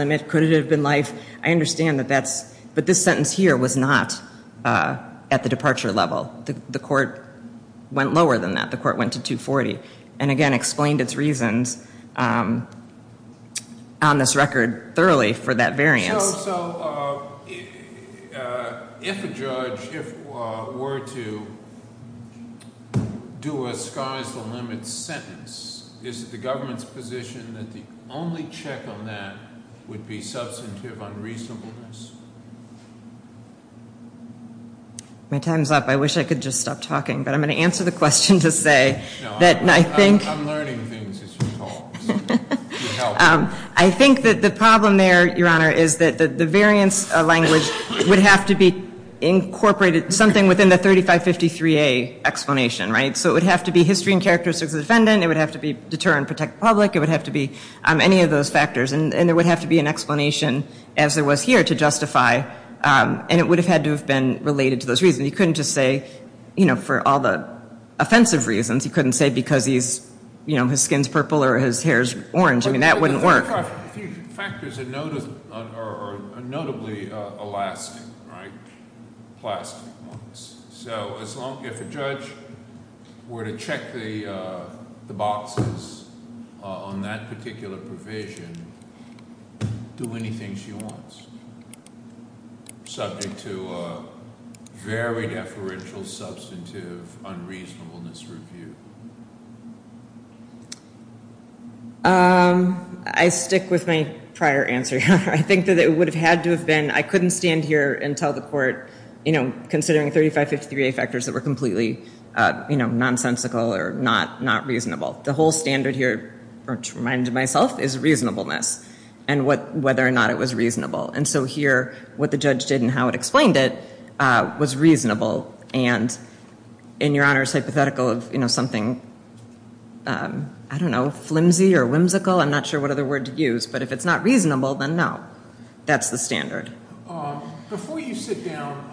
I understand that that's, but this sentence here was not at the departure level. The court went lower than that. The court went to 240. And again, explained its reasons on this record thoroughly for that variance. So, so if a judge, if were to do a sky's the limit sentence, is it the government's position that the only check on that would be substantive unreasonableness? My time's up. I wish I could just stop talking, but I'm going to answer the question to say that I think I'm learning things as you talk. I think that the problem there, Your Honor, is that the variance language would have to be incorporated, something within the 3553A explanation, right? So it would have to be history and characteristics of the defendant. It would have to be deter and protect the public. It would have to be any of those factors. And there would have to be an explanation, as there was here, to justify. And it would have had to have been related to those reasons. You couldn't just say, you know, for all the offensive reasons, you couldn't say because he's, you know, his skin's purple or his hair's orange. I mean, that wouldn't work. But the 3553 factors are notably Alaskan, right? So as long as a judge were to check the boxes on that particular provision, do anything she wants, subject to a very deferential, substantive unreasonableness review. I stick with my prior answer, Your Honor. I think that it would have had to have been, I couldn't stand here and tell the court, you know, considering 3553A factors that were completely, you know, nonsensical or not reasonable. The whole standard here, to remind myself, is reasonableness and whether or not it was reasonable. And so here, what the judge did and how it explained it was reasonable. And in Your Honor's hypothetical of, you know, something, I don't know, flimsy or whimsical, I'm not sure what other word to use, but if it's not reasonable, then no, that's the standard. Before you sit down,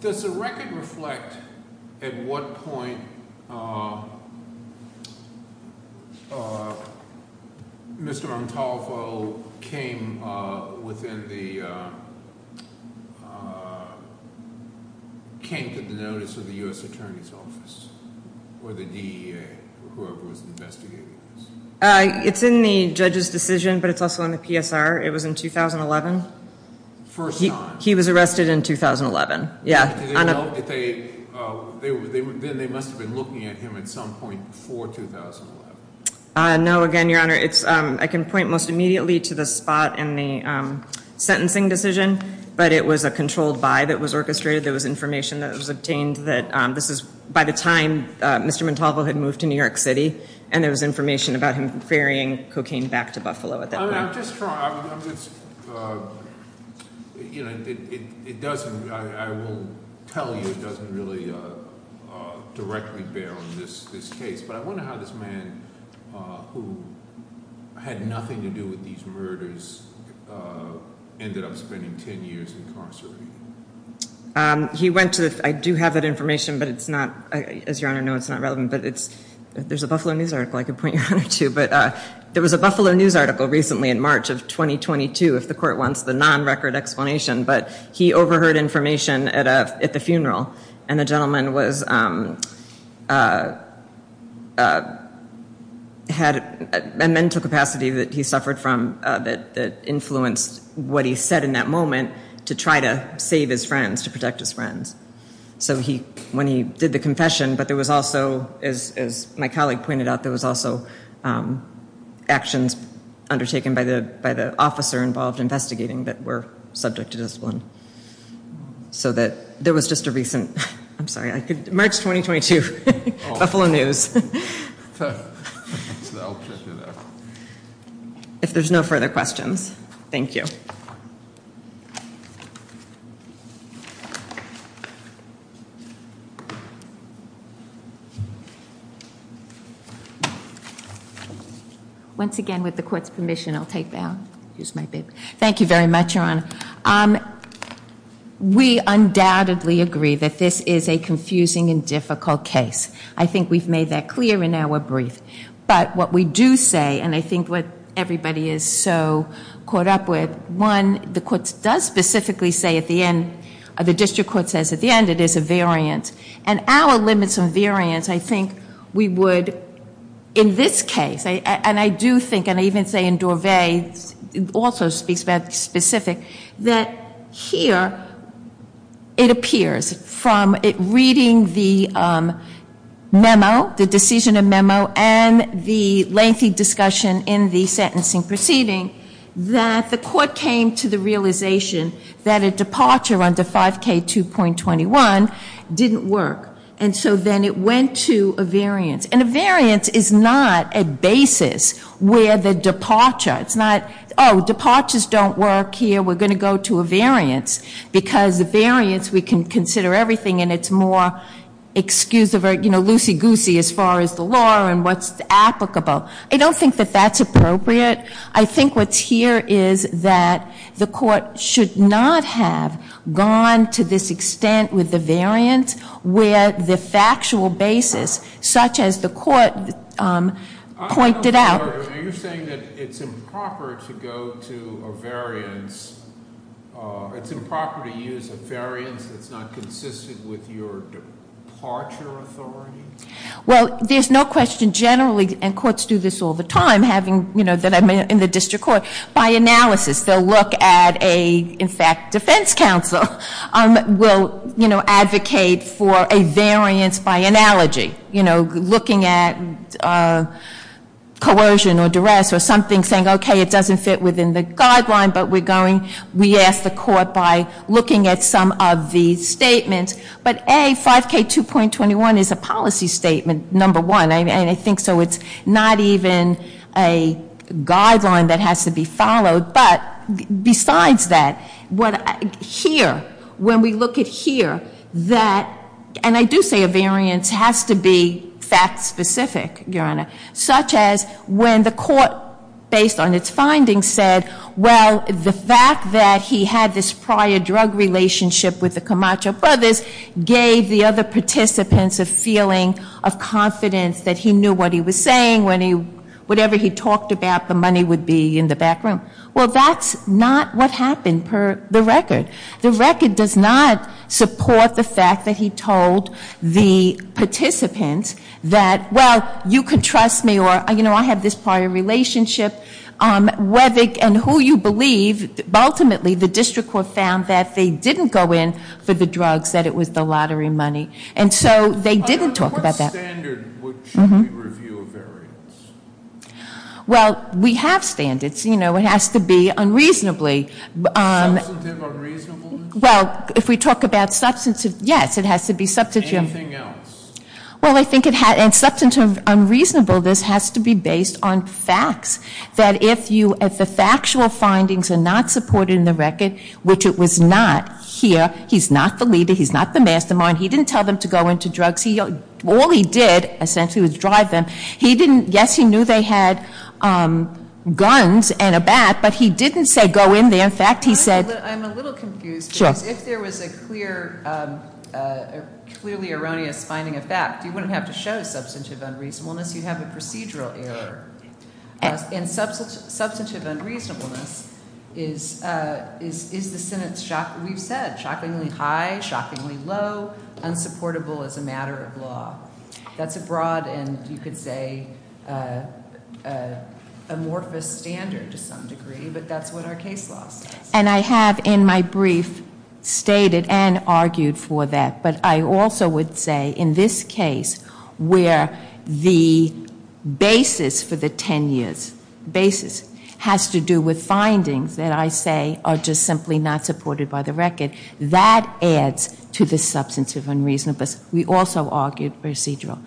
does the record reflect at what point Mr. It's in the judge's decision, but it's also in the PSR. It was in 2011. First time. He was arrested in 2011. Yeah. Then they must have been looking at him at some point before 2011. No, again, Your Honor, I can point most immediately to the spot in the sentencing decision, but it was a controlled by that was orchestrated. There was information that was obtained that this is, by the time Mr. Montalvo had moved to New York City, and there was information about him ferrying cocaine back to Buffalo at that point. I'm just trying, you know, it doesn't, I will tell you, it doesn't really directly bear on this case. But I wonder how this man, who had nothing to do with these murders, ended up spending 10 years incarcerated. He went to, I do have that information, but it's not, as Your Honor knows, it's not relevant, but it's, there's a Buffalo News article I could point Your Honor to, but there was a Buffalo News article recently in March of 2022, if the court wants the non-record explanation, but he overheard information at the funeral, and the gentleman was, had a mental capacity that he suffered from that influenced what he said in that moment to try to save his friends, to protect his friends. So he, when he did the confession, but there was also, as my colleague pointed out, there was also actions undertaken by the officer involved investigating that were subject to discipline. So that, there was just a recent, I'm sorry, March 2022, Buffalo News. So I'll check it out. If there's no further questions, thank you. Once again, with the court's permission, I'll take that. Thank you very much, Your Honor. We undoubtedly agree that this is a confusing and difficult case. I think we've made that clear in our brief. But what we do say, and I think what everybody is so caught up with, one, the court does specifically say at the end, the district court says at the end, it is a variant. And our limits on variants, I think we would, in this case, and I do think, and I even say in Dorvay, also speaks about specific, that here, it appears from reading the memo, the decision of memo, and the lengthy discussion in the sentencing proceeding, that the court came to the realization that a departure under 5K2.21 didn't work. And so then it went to a variance. And a variance is not a basis where the departure. It's not, oh, departures don't work here. We're going to go to a variance. Because the variance, we can consider everything, and it's more, excuse the word, you know, loosey-goosey as far as the law and what's applicable. I don't think that that's appropriate. I think what's here is that the court should not have gone to this extent with the variance where the factual basis, such as the court pointed out. Are you saying that it's improper to go to a variance, it's improper to use a variance that's not consistent with your departure authority? Well, there's no question generally, and courts do this all the time, having, you know, that I'm in the district court. By analysis, they'll look at a, in fact, defense counsel will, you know, advocate for a variance by analogy. You know, looking at coercion or duress or something saying, okay, it doesn't fit within the guideline, but we're going, we ask the court by looking at some of the statements. But A, 5K2.21 is a policy statement, number one. And I think so it's not even a guideline that has to be followed. But besides that, here, when we look at here, that, and I do say a variance has to be fact-specific, Your Honor, such as when the court, based on its findings, said, well, the fact that he had this prior drug relationship with the Camacho brothers gave the other participants a feeling of confidence that he knew what he was saying when he, whatever he talked about, the money would be in the back room. Well, that's not what happened per the record. The record does not support the fact that he told the participants that, well, you can trust me, or, you know, I have this prior relationship, whether, and who you believe, but ultimately the district court found that they didn't go in for the drugs, that it was the lottery money, and so they didn't talk about that. What standard should we review a variance? Well, we have standards. You know, it has to be unreasonably. Substantive unreasonableness? Well, if we talk about substantive, yes, it has to be substantive. Anything else? Well, I think it has, and substantive unreasonableness has to be based on facts, that if the factual findings are not supported in the record, which it was not here, he's not the leader, he's not the mastermind, he didn't tell them to go into drugs, all he did, essentially, was drive them. He didn't, yes, he knew they had guns and a bat, but he didn't say go in there. In fact, he said- I'm a little confused, because if there was a clearly erroneous finding of fact, you wouldn't have to show substantive unreasonableness, you'd have a procedural error. And substantive unreasonableness is the sentence we've said, shockingly high, shockingly low, unsupportable as a matter of law. That's a broad and, you could say, amorphous standard to some degree, but that's what our case law says. And I have in my brief stated and argued for that, but I also would say in this case where the basis for the ten years, basis has to do with findings that I say are just simply not supported by the record, that adds to the substantive unreasonableness. We also argued procedural.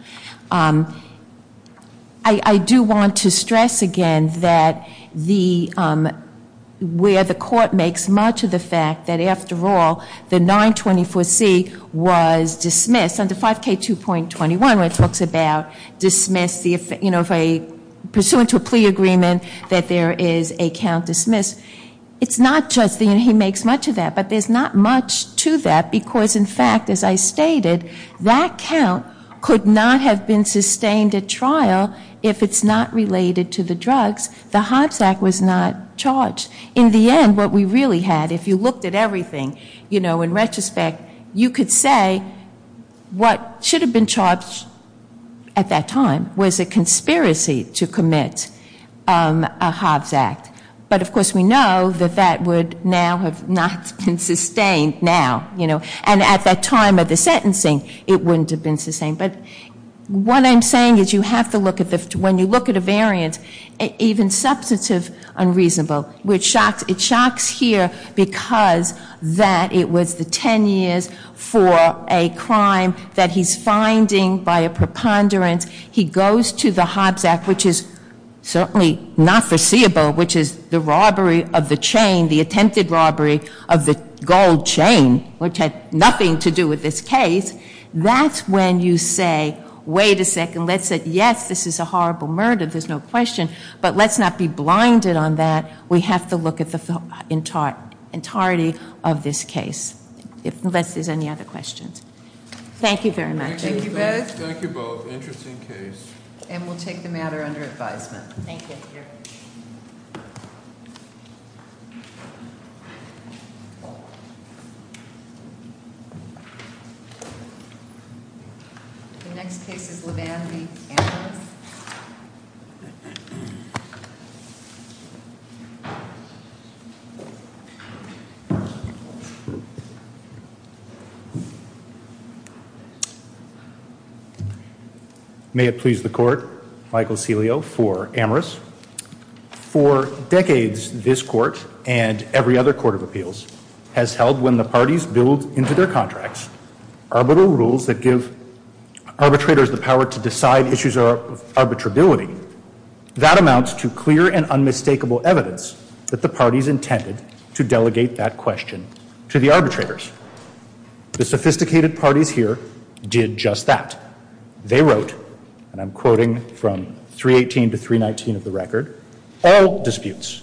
I do want to stress again that where the court makes much of the fact that, after all, the 924C was dismissed, under 5K2.21 where it talks about dismissed, you know, pursuant to a plea agreement that there is a count dismissed, it's not just that he makes much of that, but there's not much to that, because, in fact, as I stated, that count could not have been sustained at trial if it's not related to the drugs. The Hobbs Act was not charged. In the end, what we really had, if you looked at everything, you know, in retrospect, you could say what should have been charged at that time was a conspiracy to commit a Hobbs Act. But, of course, we know that that would now have not been sustained now, you know. And at that time of the sentencing, it wouldn't have been sustained. But what I'm saying is you have to look at this. When you look at a variant, even substantive unreasonable, it shocks here because that it was the ten years for a crime that he's finding by a preponderance. He goes to the Hobbs Act, which is certainly not foreseeable, which is the robbery of the chain, the attempted robbery of the gold chain, which had nothing to do with this case. That's when you say, wait a second, let's say, yes, this is a horrible murder, there's no question, but let's not be blinded on that. We have to look at the entirety of this case, unless there's any other questions. Thank you very much. Thank you both. Thank you both. Interesting case. And we'll take the matter under advisement. Thank you. Thank you. May it please the court. Michael Celio for Amherst. For decades, this court and every other court of appeals has held when the parties build into their contracts arbitral rules that give arbitrators the power to decide issues of arbitrability. That amounts to clear and unmistakable evidence that the parties intended to delegate that question to the arbitrators. The sophisticated parties here did just that. They wrote, and I'm quoting from 318 to 319 of the record, all disputes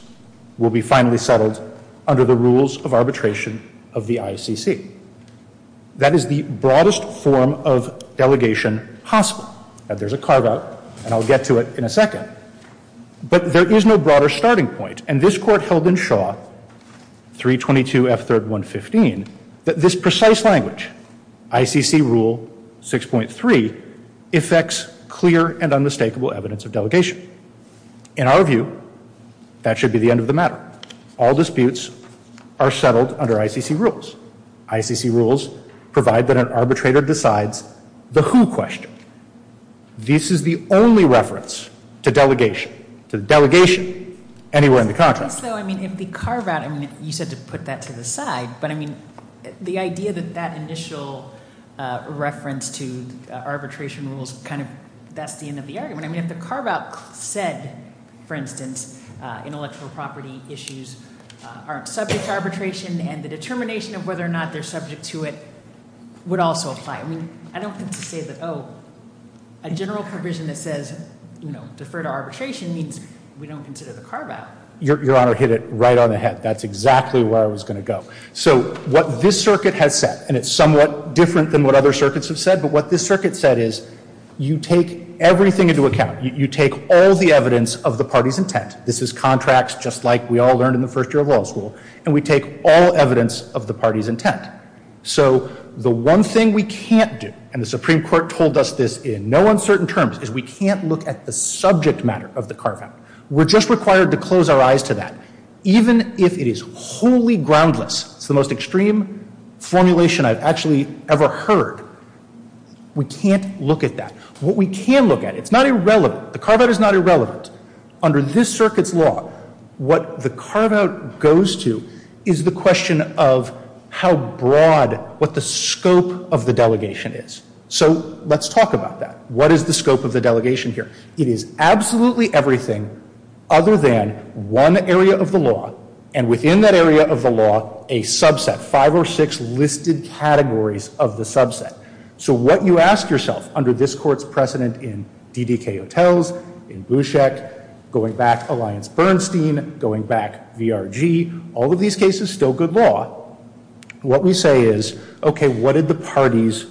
will be finally settled under the rules of arbitration of the ICC. That is the broadest form of delegation possible. There's a carve-out, and I'll get to it in a second. But there is no broader starting point. And this court held in Shaw, 322 F3rd 115, that this precise language, ICC Rule 6.3, effects clear and unmistakable evidence of delegation. In our view, that should be the end of the matter. All disputes are settled under ICC rules. ICC rules provide that an arbitrator decides the who question. This is the only reference to delegation, anywhere in the context. If the carve-out, you said to put that to the side, but the idea that that initial reference to arbitration rules, that's the end of the argument. If the carve-out said, for instance, intellectual property issues aren't subject to arbitration, and the determination of whether or not they're subject to it would also apply. I don't have to say that a general provision that says defer to arbitration means we don't consider the carve-out. Your Honor, hit it right on the head. That's exactly where I was going to go. So what this circuit has said, and it's somewhat different than what other circuits have said, but what this circuit said is you take everything into account. You take all the evidence of the party's intent. This is contracts, just like we all learned in the first year of law school. And we take all evidence of the party's intent. So the one thing we can't do, and the Supreme Court told us this in no uncertain terms, is we can't look at the subject matter of the carve-out. We're just required to close our eyes to that, even if it is wholly groundless. It's the most extreme formulation I've actually ever heard. We can't look at that. What we can look at, it's not irrelevant. The carve-out is not irrelevant. Under this circuit's law, what the carve-out goes to is the question of how broad, what the scope of the delegation is. So let's talk about that. What is the scope of the delegation here? It is absolutely everything other than one area of the law, and within that area of the law, a subset, five or six listed categories of the subset. So what you ask yourself, under this Court's precedent in DDK Hotels, in Bushek, going back to Alliance Bernstein, going back, VRG, all of these cases, still good law, what we say is, okay, what did the parties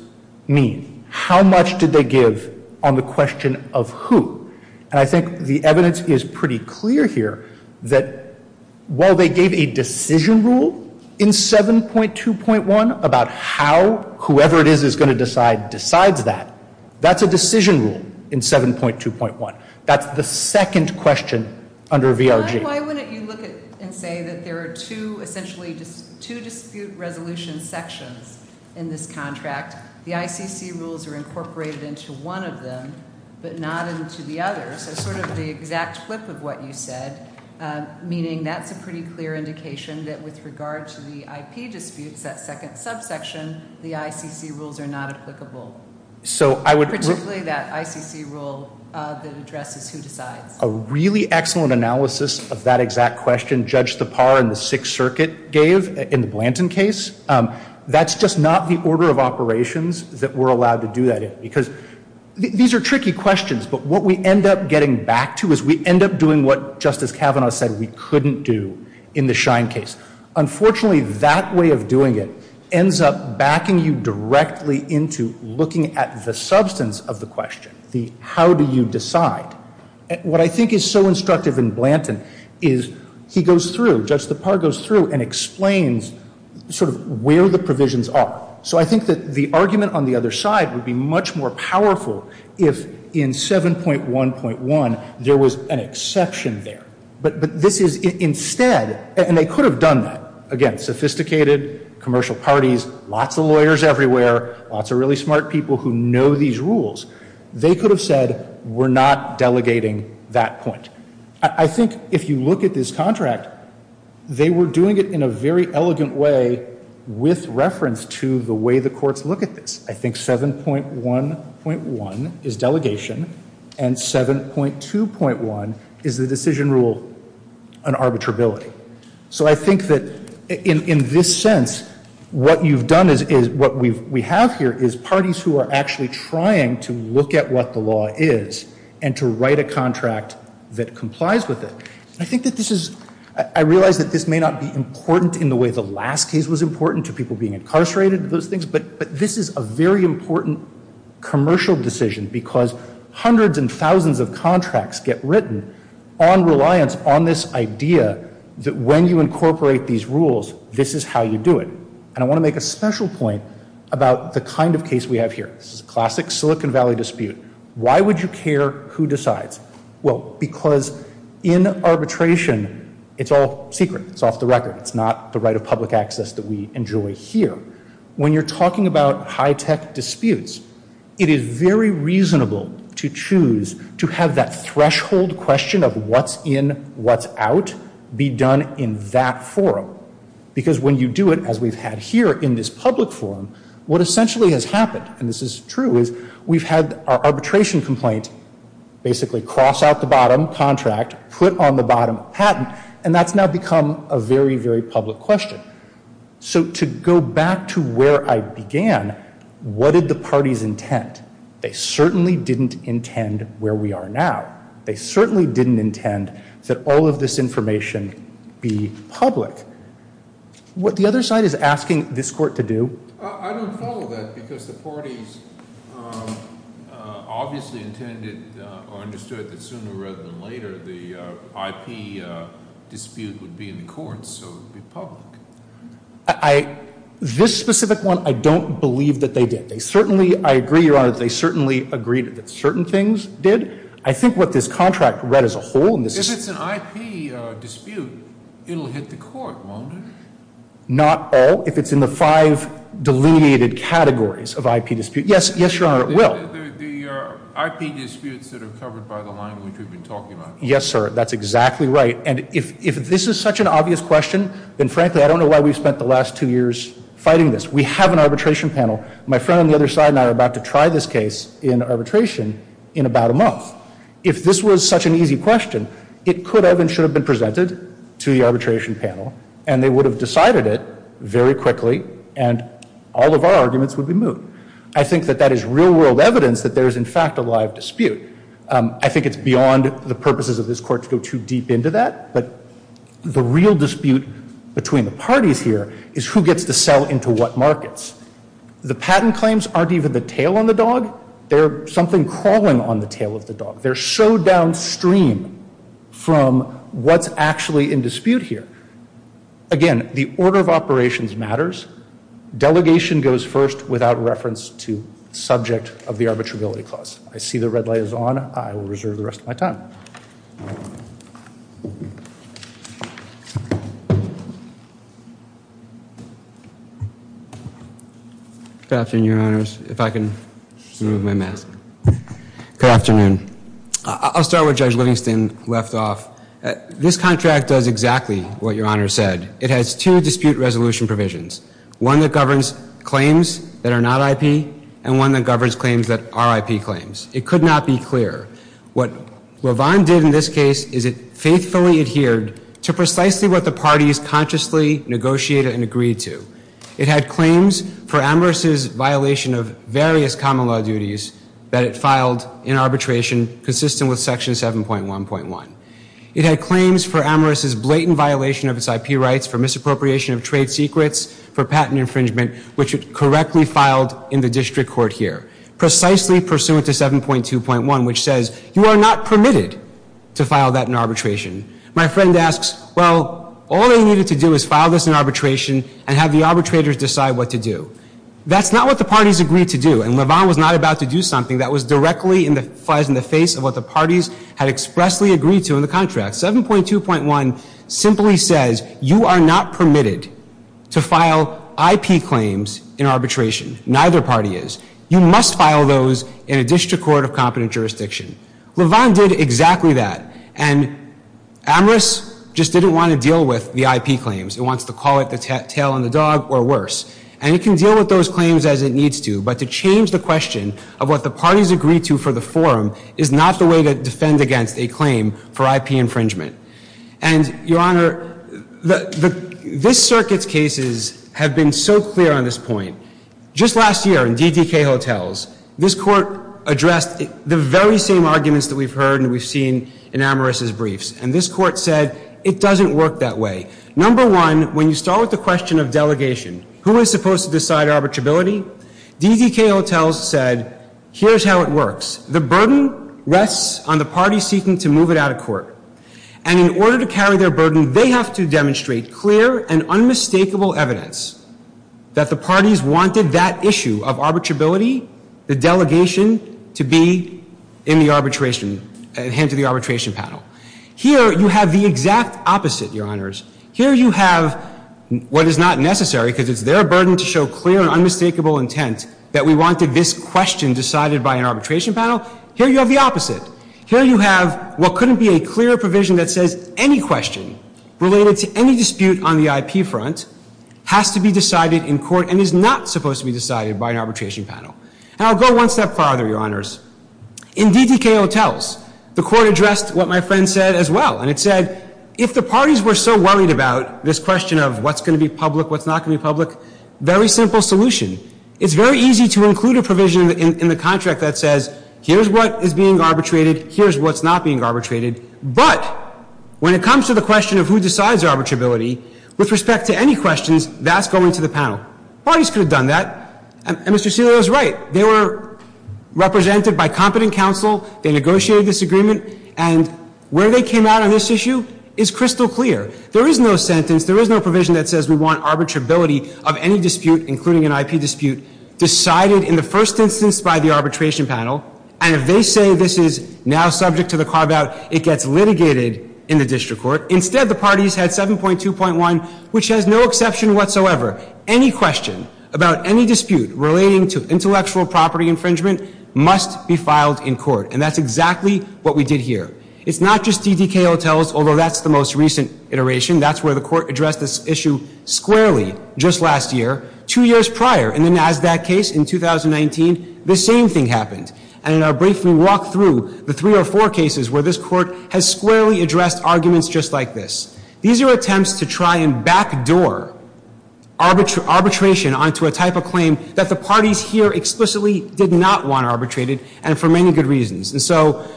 mean? How much did they give on the question of who? And I think the evidence is pretty clear here that while they gave a decision rule in 7.2.1 about how whoever it is is going to decide decides that, that's a decision rule in 7.2.1. That's the second question under VRG. Why wouldn't you look and say that there are two, essentially two dispute resolution sections in this contract? The ICC rules are incorporated into one of them, but not into the others. That's sort of the exact flip of what you said, meaning that's a pretty clear indication that with regard to the IP disputes, that second subsection, the ICC rules are not applicable. Particularly that ICC rule that addresses who decides. A really excellent analysis of that exact question, Judge Thapar in the Sixth Circuit gave in the Blanton case. That's just not the order of operations that we're allowed to do that in, because these are tricky questions, but what we end up getting back to is we end up doing what Justice Kavanaugh said we couldn't do in the Schein case. Unfortunately, that way of doing it ends up backing you directly into looking at the substance of the question, the how do you decide. What I think is so instructive in Blanton is he goes through, Judge Thapar goes through and explains sort of where the provisions are. So I think that the argument on the other side would be much more powerful if in 7.1.1 there was an exception there. But this is instead, and they could have done that. Again, sophisticated commercial parties, lots of lawyers everywhere, lots of really smart people who know these rules. They could have said we're not delegating that point. I think if you look at this contract, they were doing it in a very elegant way with reference to the way the courts look at this. I think 7.1.1 is delegation, and 7.2.1 is the decision rule on arbitrability. So I think that in this sense what you've done is what we have here is parties who are actually trying to look at what the law is and to write a contract that complies with it. I think that this is, I realize that this may not be important in the way the last case was important to people being incarcerated and those things, but this is a very important commercial decision because hundreds and thousands of contracts get written on reliance on this idea that when you incorporate these rules, this is how you do it. And I want to make a special point about the kind of case we have here. This is a classic Silicon Valley dispute. Why would you care who decides? Well, because in arbitration it's all secret. It's off the record. It's not the right of public access that we enjoy here. When you're talking about high-tech disputes, it is very reasonable to choose to have that threshold question of what's in, what's out be done in that forum because when you do it as we've had here in this public forum, what essentially has happened, and this is true, is we've had our arbitration complaint basically cross out the bottom contract, put on the bottom patent, and that's now become a very, very public question. So to go back to where I began, what did the parties intend? They certainly didn't intend where we are now. They certainly didn't intend that all of this information be public. What the other side is asking this court to do. I don't follow that because the parties obviously intended or understood that sooner rather than later the IP dispute would be in the courts so it would be public. This specific one, I don't believe that they did. They certainly, I agree, Your Honor, they certainly agreed that certain things did. I think what this contract read as a whole. If it's an IP dispute, it will hit the court, won't it? Not all. If it's in the five delineated categories of IP dispute, yes, Your Honor, it will. The IP disputes that are covered by the line which we've been talking about. Yes, sir. That's exactly right. And if this is such an obvious question, then frankly I don't know why we've spent the last two years fighting this. We have an arbitration panel. My friend on the other side and I are about to try this case in arbitration in about a month. If this was such an easy question, it could have and should have been presented to the arbitration panel and they would have decided it very quickly and all of our arguments would be moved. I think that that is real world evidence that there is in fact a live dispute. I think it's beyond the purposes of this court to go too deep into that. But the real dispute between the parties here is who gets to sell into what markets. The patent claims aren't even the tail on the dog. They're something crawling on the tail of the dog. They're so downstream from what's actually in dispute here. Again, the order of operations matters. Delegation goes first without reference to subject of the arbitrability clause. I see the red light is on. I will reserve the rest of my time. Good afternoon, Your Honors. If I can remove my mask. Good afternoon. I'll start with Judge Livingston left off. This contract does exactly what Your Honor said. It has two dispute resolution provisions. One that governs claims that are not IP and one that governs claims that are IP claims. It could not be clearer. What LaVon did in this case is it faithfully adhered to precisely what the parties consciously negotiated and agreed to. It had claims for Amherst's violation of various common law duties that it filed in arbitration consistent with Section 7.1.1. It had claims for Amherst's blatant violation of its IP rights, for misappropriation of trade secrets, for patent infringement, which it correctly filed in the district court here. Precisely pursuant to 7.2.1, which says you are not permitted to file that in arbitration. My friend asks, well, all they needed to do is file this in arbitration and have the arbitrators decide what to do. That's not what the parties agreed to do. And LaVon was not about to do something that was directly in the face of what the parties had expressly agreed to in the contract. 7.2.1 simply says you are not permitted to file IP claims in arbitration. Neither party is. You must file those in a district court of competent jurisdiction. LaVon did exactly that. And Amherst just didn't want to deal with the IP claims. It wants to call it the tail on the dog or worse. And it can deal with those claims as it needs to. But to change the question of what the parties agreed to for the forum is not the way to defend against a claim for IP infringement. And, Your Honor, this circuit's cases have been so clear on this point. Just last year in DDK Hotels, this court addressed the very same arguments that we've heard and we've seen in Amherst's briefs. And this court said it doesn't work that way. Number one, when you start with the question of delegation, who is supposed to decide arbitrability? DDK Hotels said, here's how it works. The burden rests on the party seeking to move it out of court. And in order to carry their burden, they have to demonstrate clear and unmistakable evidence that the parties wanted that issue of arbitrability, the delegation, to be in the arbitration, hand to the arbitration panel. Here you have the exact opposite, Your Honors. Here you have what is not necessary because it's their burden to show clear and unmistakable intent that we wanted this question decided by an arbitration panel. Here you have the opposite. Here you have what couldn't be a clearer provision that says any question related to any dispute on the IP front has to be decided in court and is not supposed to be decided by an arbitration panel. And I'll go one step farther, Your Honors. In DDK Hotels, the court addressed what my friend said as well. And it said, if the parties were so worried about this question of what's going to be public, what's not going to be public, very simple solution. It's very easy to include a provision in the contract that says, here's what is being arbitrated. Here's what's not being arbitrated. But when it comes to the question of who decides arbitrability with respect to any questions, that's going to the panel. Parties could have done that. And Mr. Celio is right. They were represented by competent counsel. They negotiated this agreement. And where they came out on this issue is crystal clear. There is no sentence. There is no provision that says we want arbitrability of any dispute, including an IP dispute, decided in the first instance by the arbitration panel. And if they say this is now subject to the carve-out, it gets litigated in the district court. Instead, the parties had 7.2.1, which has no exception whatsoever. Any question about any dispute relating to intellectual property infringement must be filed in court. And that's exactly what we did here. It's not just DDK hotels, although that's the most recent iteration. That's where the court addressed this issue squarely just last year. Two years prior, in the NASDAQ case in 2019, the same thing happened. And I'll briefly walk through the three or four cases where this court has squarely addressed arguments just like this. These are attempts to try and backdoor arbitration onto a type of claim that the parties here explicitly did not want arbitrated, and for many good reasons. And so,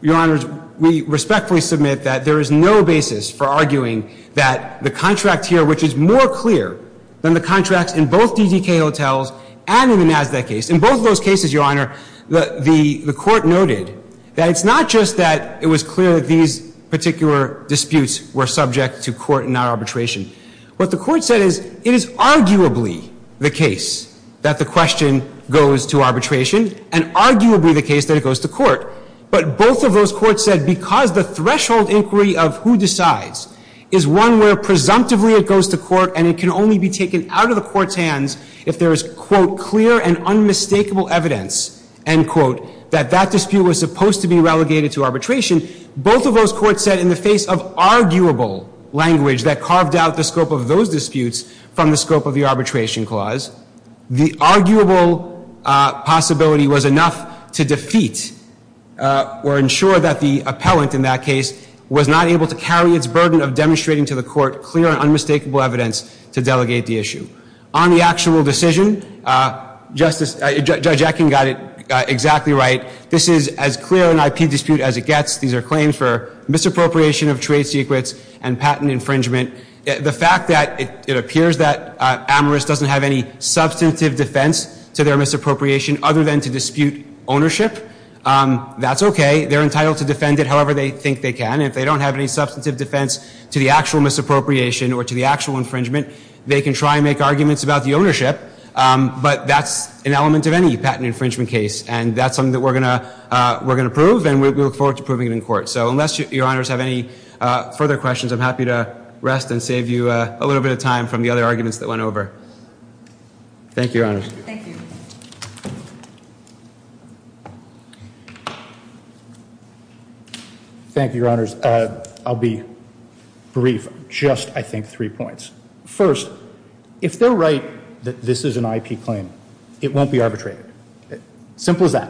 Your Honors, we respectfully submit that there is no basis for arguing that the contract here, which is more clear than the contracts in both DDK hotels and in the NASDAQ case. In both of those cases, Your Honor, the court noted that it's not just that it was clear that these particular disputes were subject to court and not arbitration. What the court said is it is arguably the case that the question goes to arbitration and arguably the case that it goes to court. But both of those courts said because the threshold inquiry of who decides is one where presumptively it goes to court and it can only be taken out of the court's hands if there is, quote, clear and unmistakable evidence, end quote, that that dispute was supposed to be relegated to arbitration. Both of those courts said in the face of arguable language that carved out the scope of those disputes from the scope of the arbitration clause, the arguable possibility was enough to defeat or ensure that the appellant in that case was not able to carry its burden of demonstrating to the court clear and unmistakable evidence to delegate the issue. On the actual decision, Justice — Judge Akin got it exactly right. This is as clear an IP dispute as it gets. These are claims for misappropriation of trade secrets and patent infringement. The fact that it appears that Amoris doesn't have any substantive defense to their misappropriation other than to dispute ownership, that's okay. They're entitled to defend it however they think they can. If they don't have any substantive defense to the actual misappropriation or to the actual infringement, they can try and make arguments about the ownership, but that's an element of any patent infringement case, and that's something that we're going to prove, and we look forward to proving it in court. So unless Your Honors have any further questions, I'm happy to rest and save you a little bit of time from the other arguments that went over. Thank you, Your Honors. Thank you. Thank you, Your Honors. I'll be brief. Just, I think, three points. First, if they're right that this is an IP claim, it won't be arbitrated. Simple as that.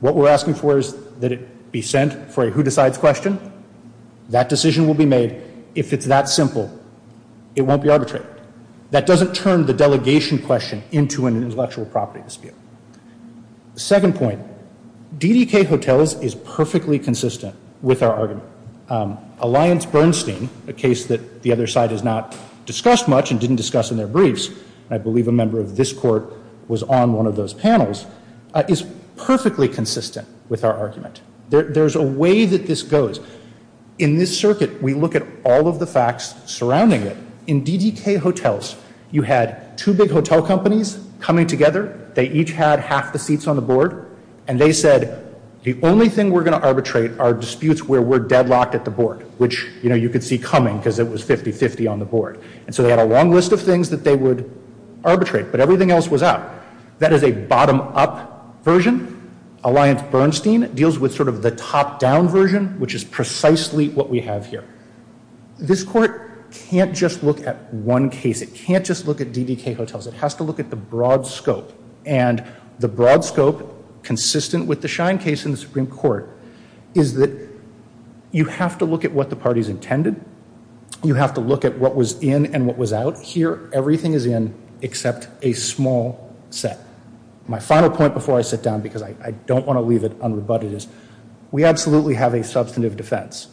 What we're asking for is that it be sent for a who-decides question. That decision will be made. If it's that simple, it won't be arbitrated. That doesn't turn the delegation question into an intellectual property dispute. Second point, DDK Hotels is perfectly consistent with our argument. Alliance Bernstein, a case that the other side has not discussed much and didn't discuss in their briefs, and I believe a member of this court was on one of those panels, is perfectly consistent with our argument. There's a way that this goes. In this circuit, we look at all of the facts surrounding it. In DDK Hotels, you had two big hotel companies coming together. They each had half the seats on the board, and they said, the only thing we're going to arbitrate are disputes where we're deadlocked at the board, which, you know, you could see coming because it was 50-50 on the board. And so they had a long list of things that they would arbitrate, but everything else was out. That is a bottom-up version. Alliance Bernstein deals with sort of the top-down version, which is precisely what we have here. This court can't just look at one case. It can't just look at DDK Hotels. It has to look at the broad scope, and the broad scope, consistent with the Schein case in the Supreme Court, is that you have to look at what the parties intended. You have to look at what was in and what was out. Here, everything is in except a small set. My final point before I sit down because I don't want to leave it unrebutted is we absolutely have a substantive defense.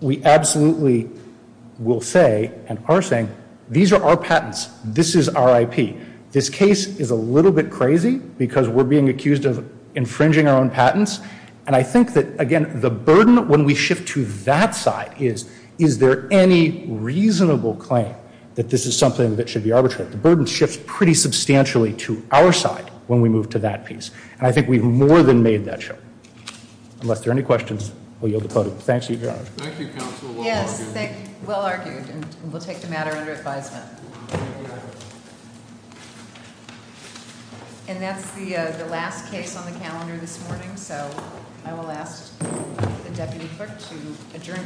We absolutely will say and are saying, these are our patents. This is our IP. This case is a little bit crazy because we're being accused of infringing our own patents, and I think that, again, the burden when we shift to that side is, is there any reasonable claim that this is something that should be arbitrated? The burden shifts pretty substantially to our side when we move to that piece, and I think we've more than made that show. Unless there are any questions, I'll yield the floor. Thank you, Your Honor. Thank you, Counsel. Yes, thank you. Well argued, and we'll take the matter under advisement. And that's the last case on the calendar this morning, so I will ask the Deputy Clerk to adjourn.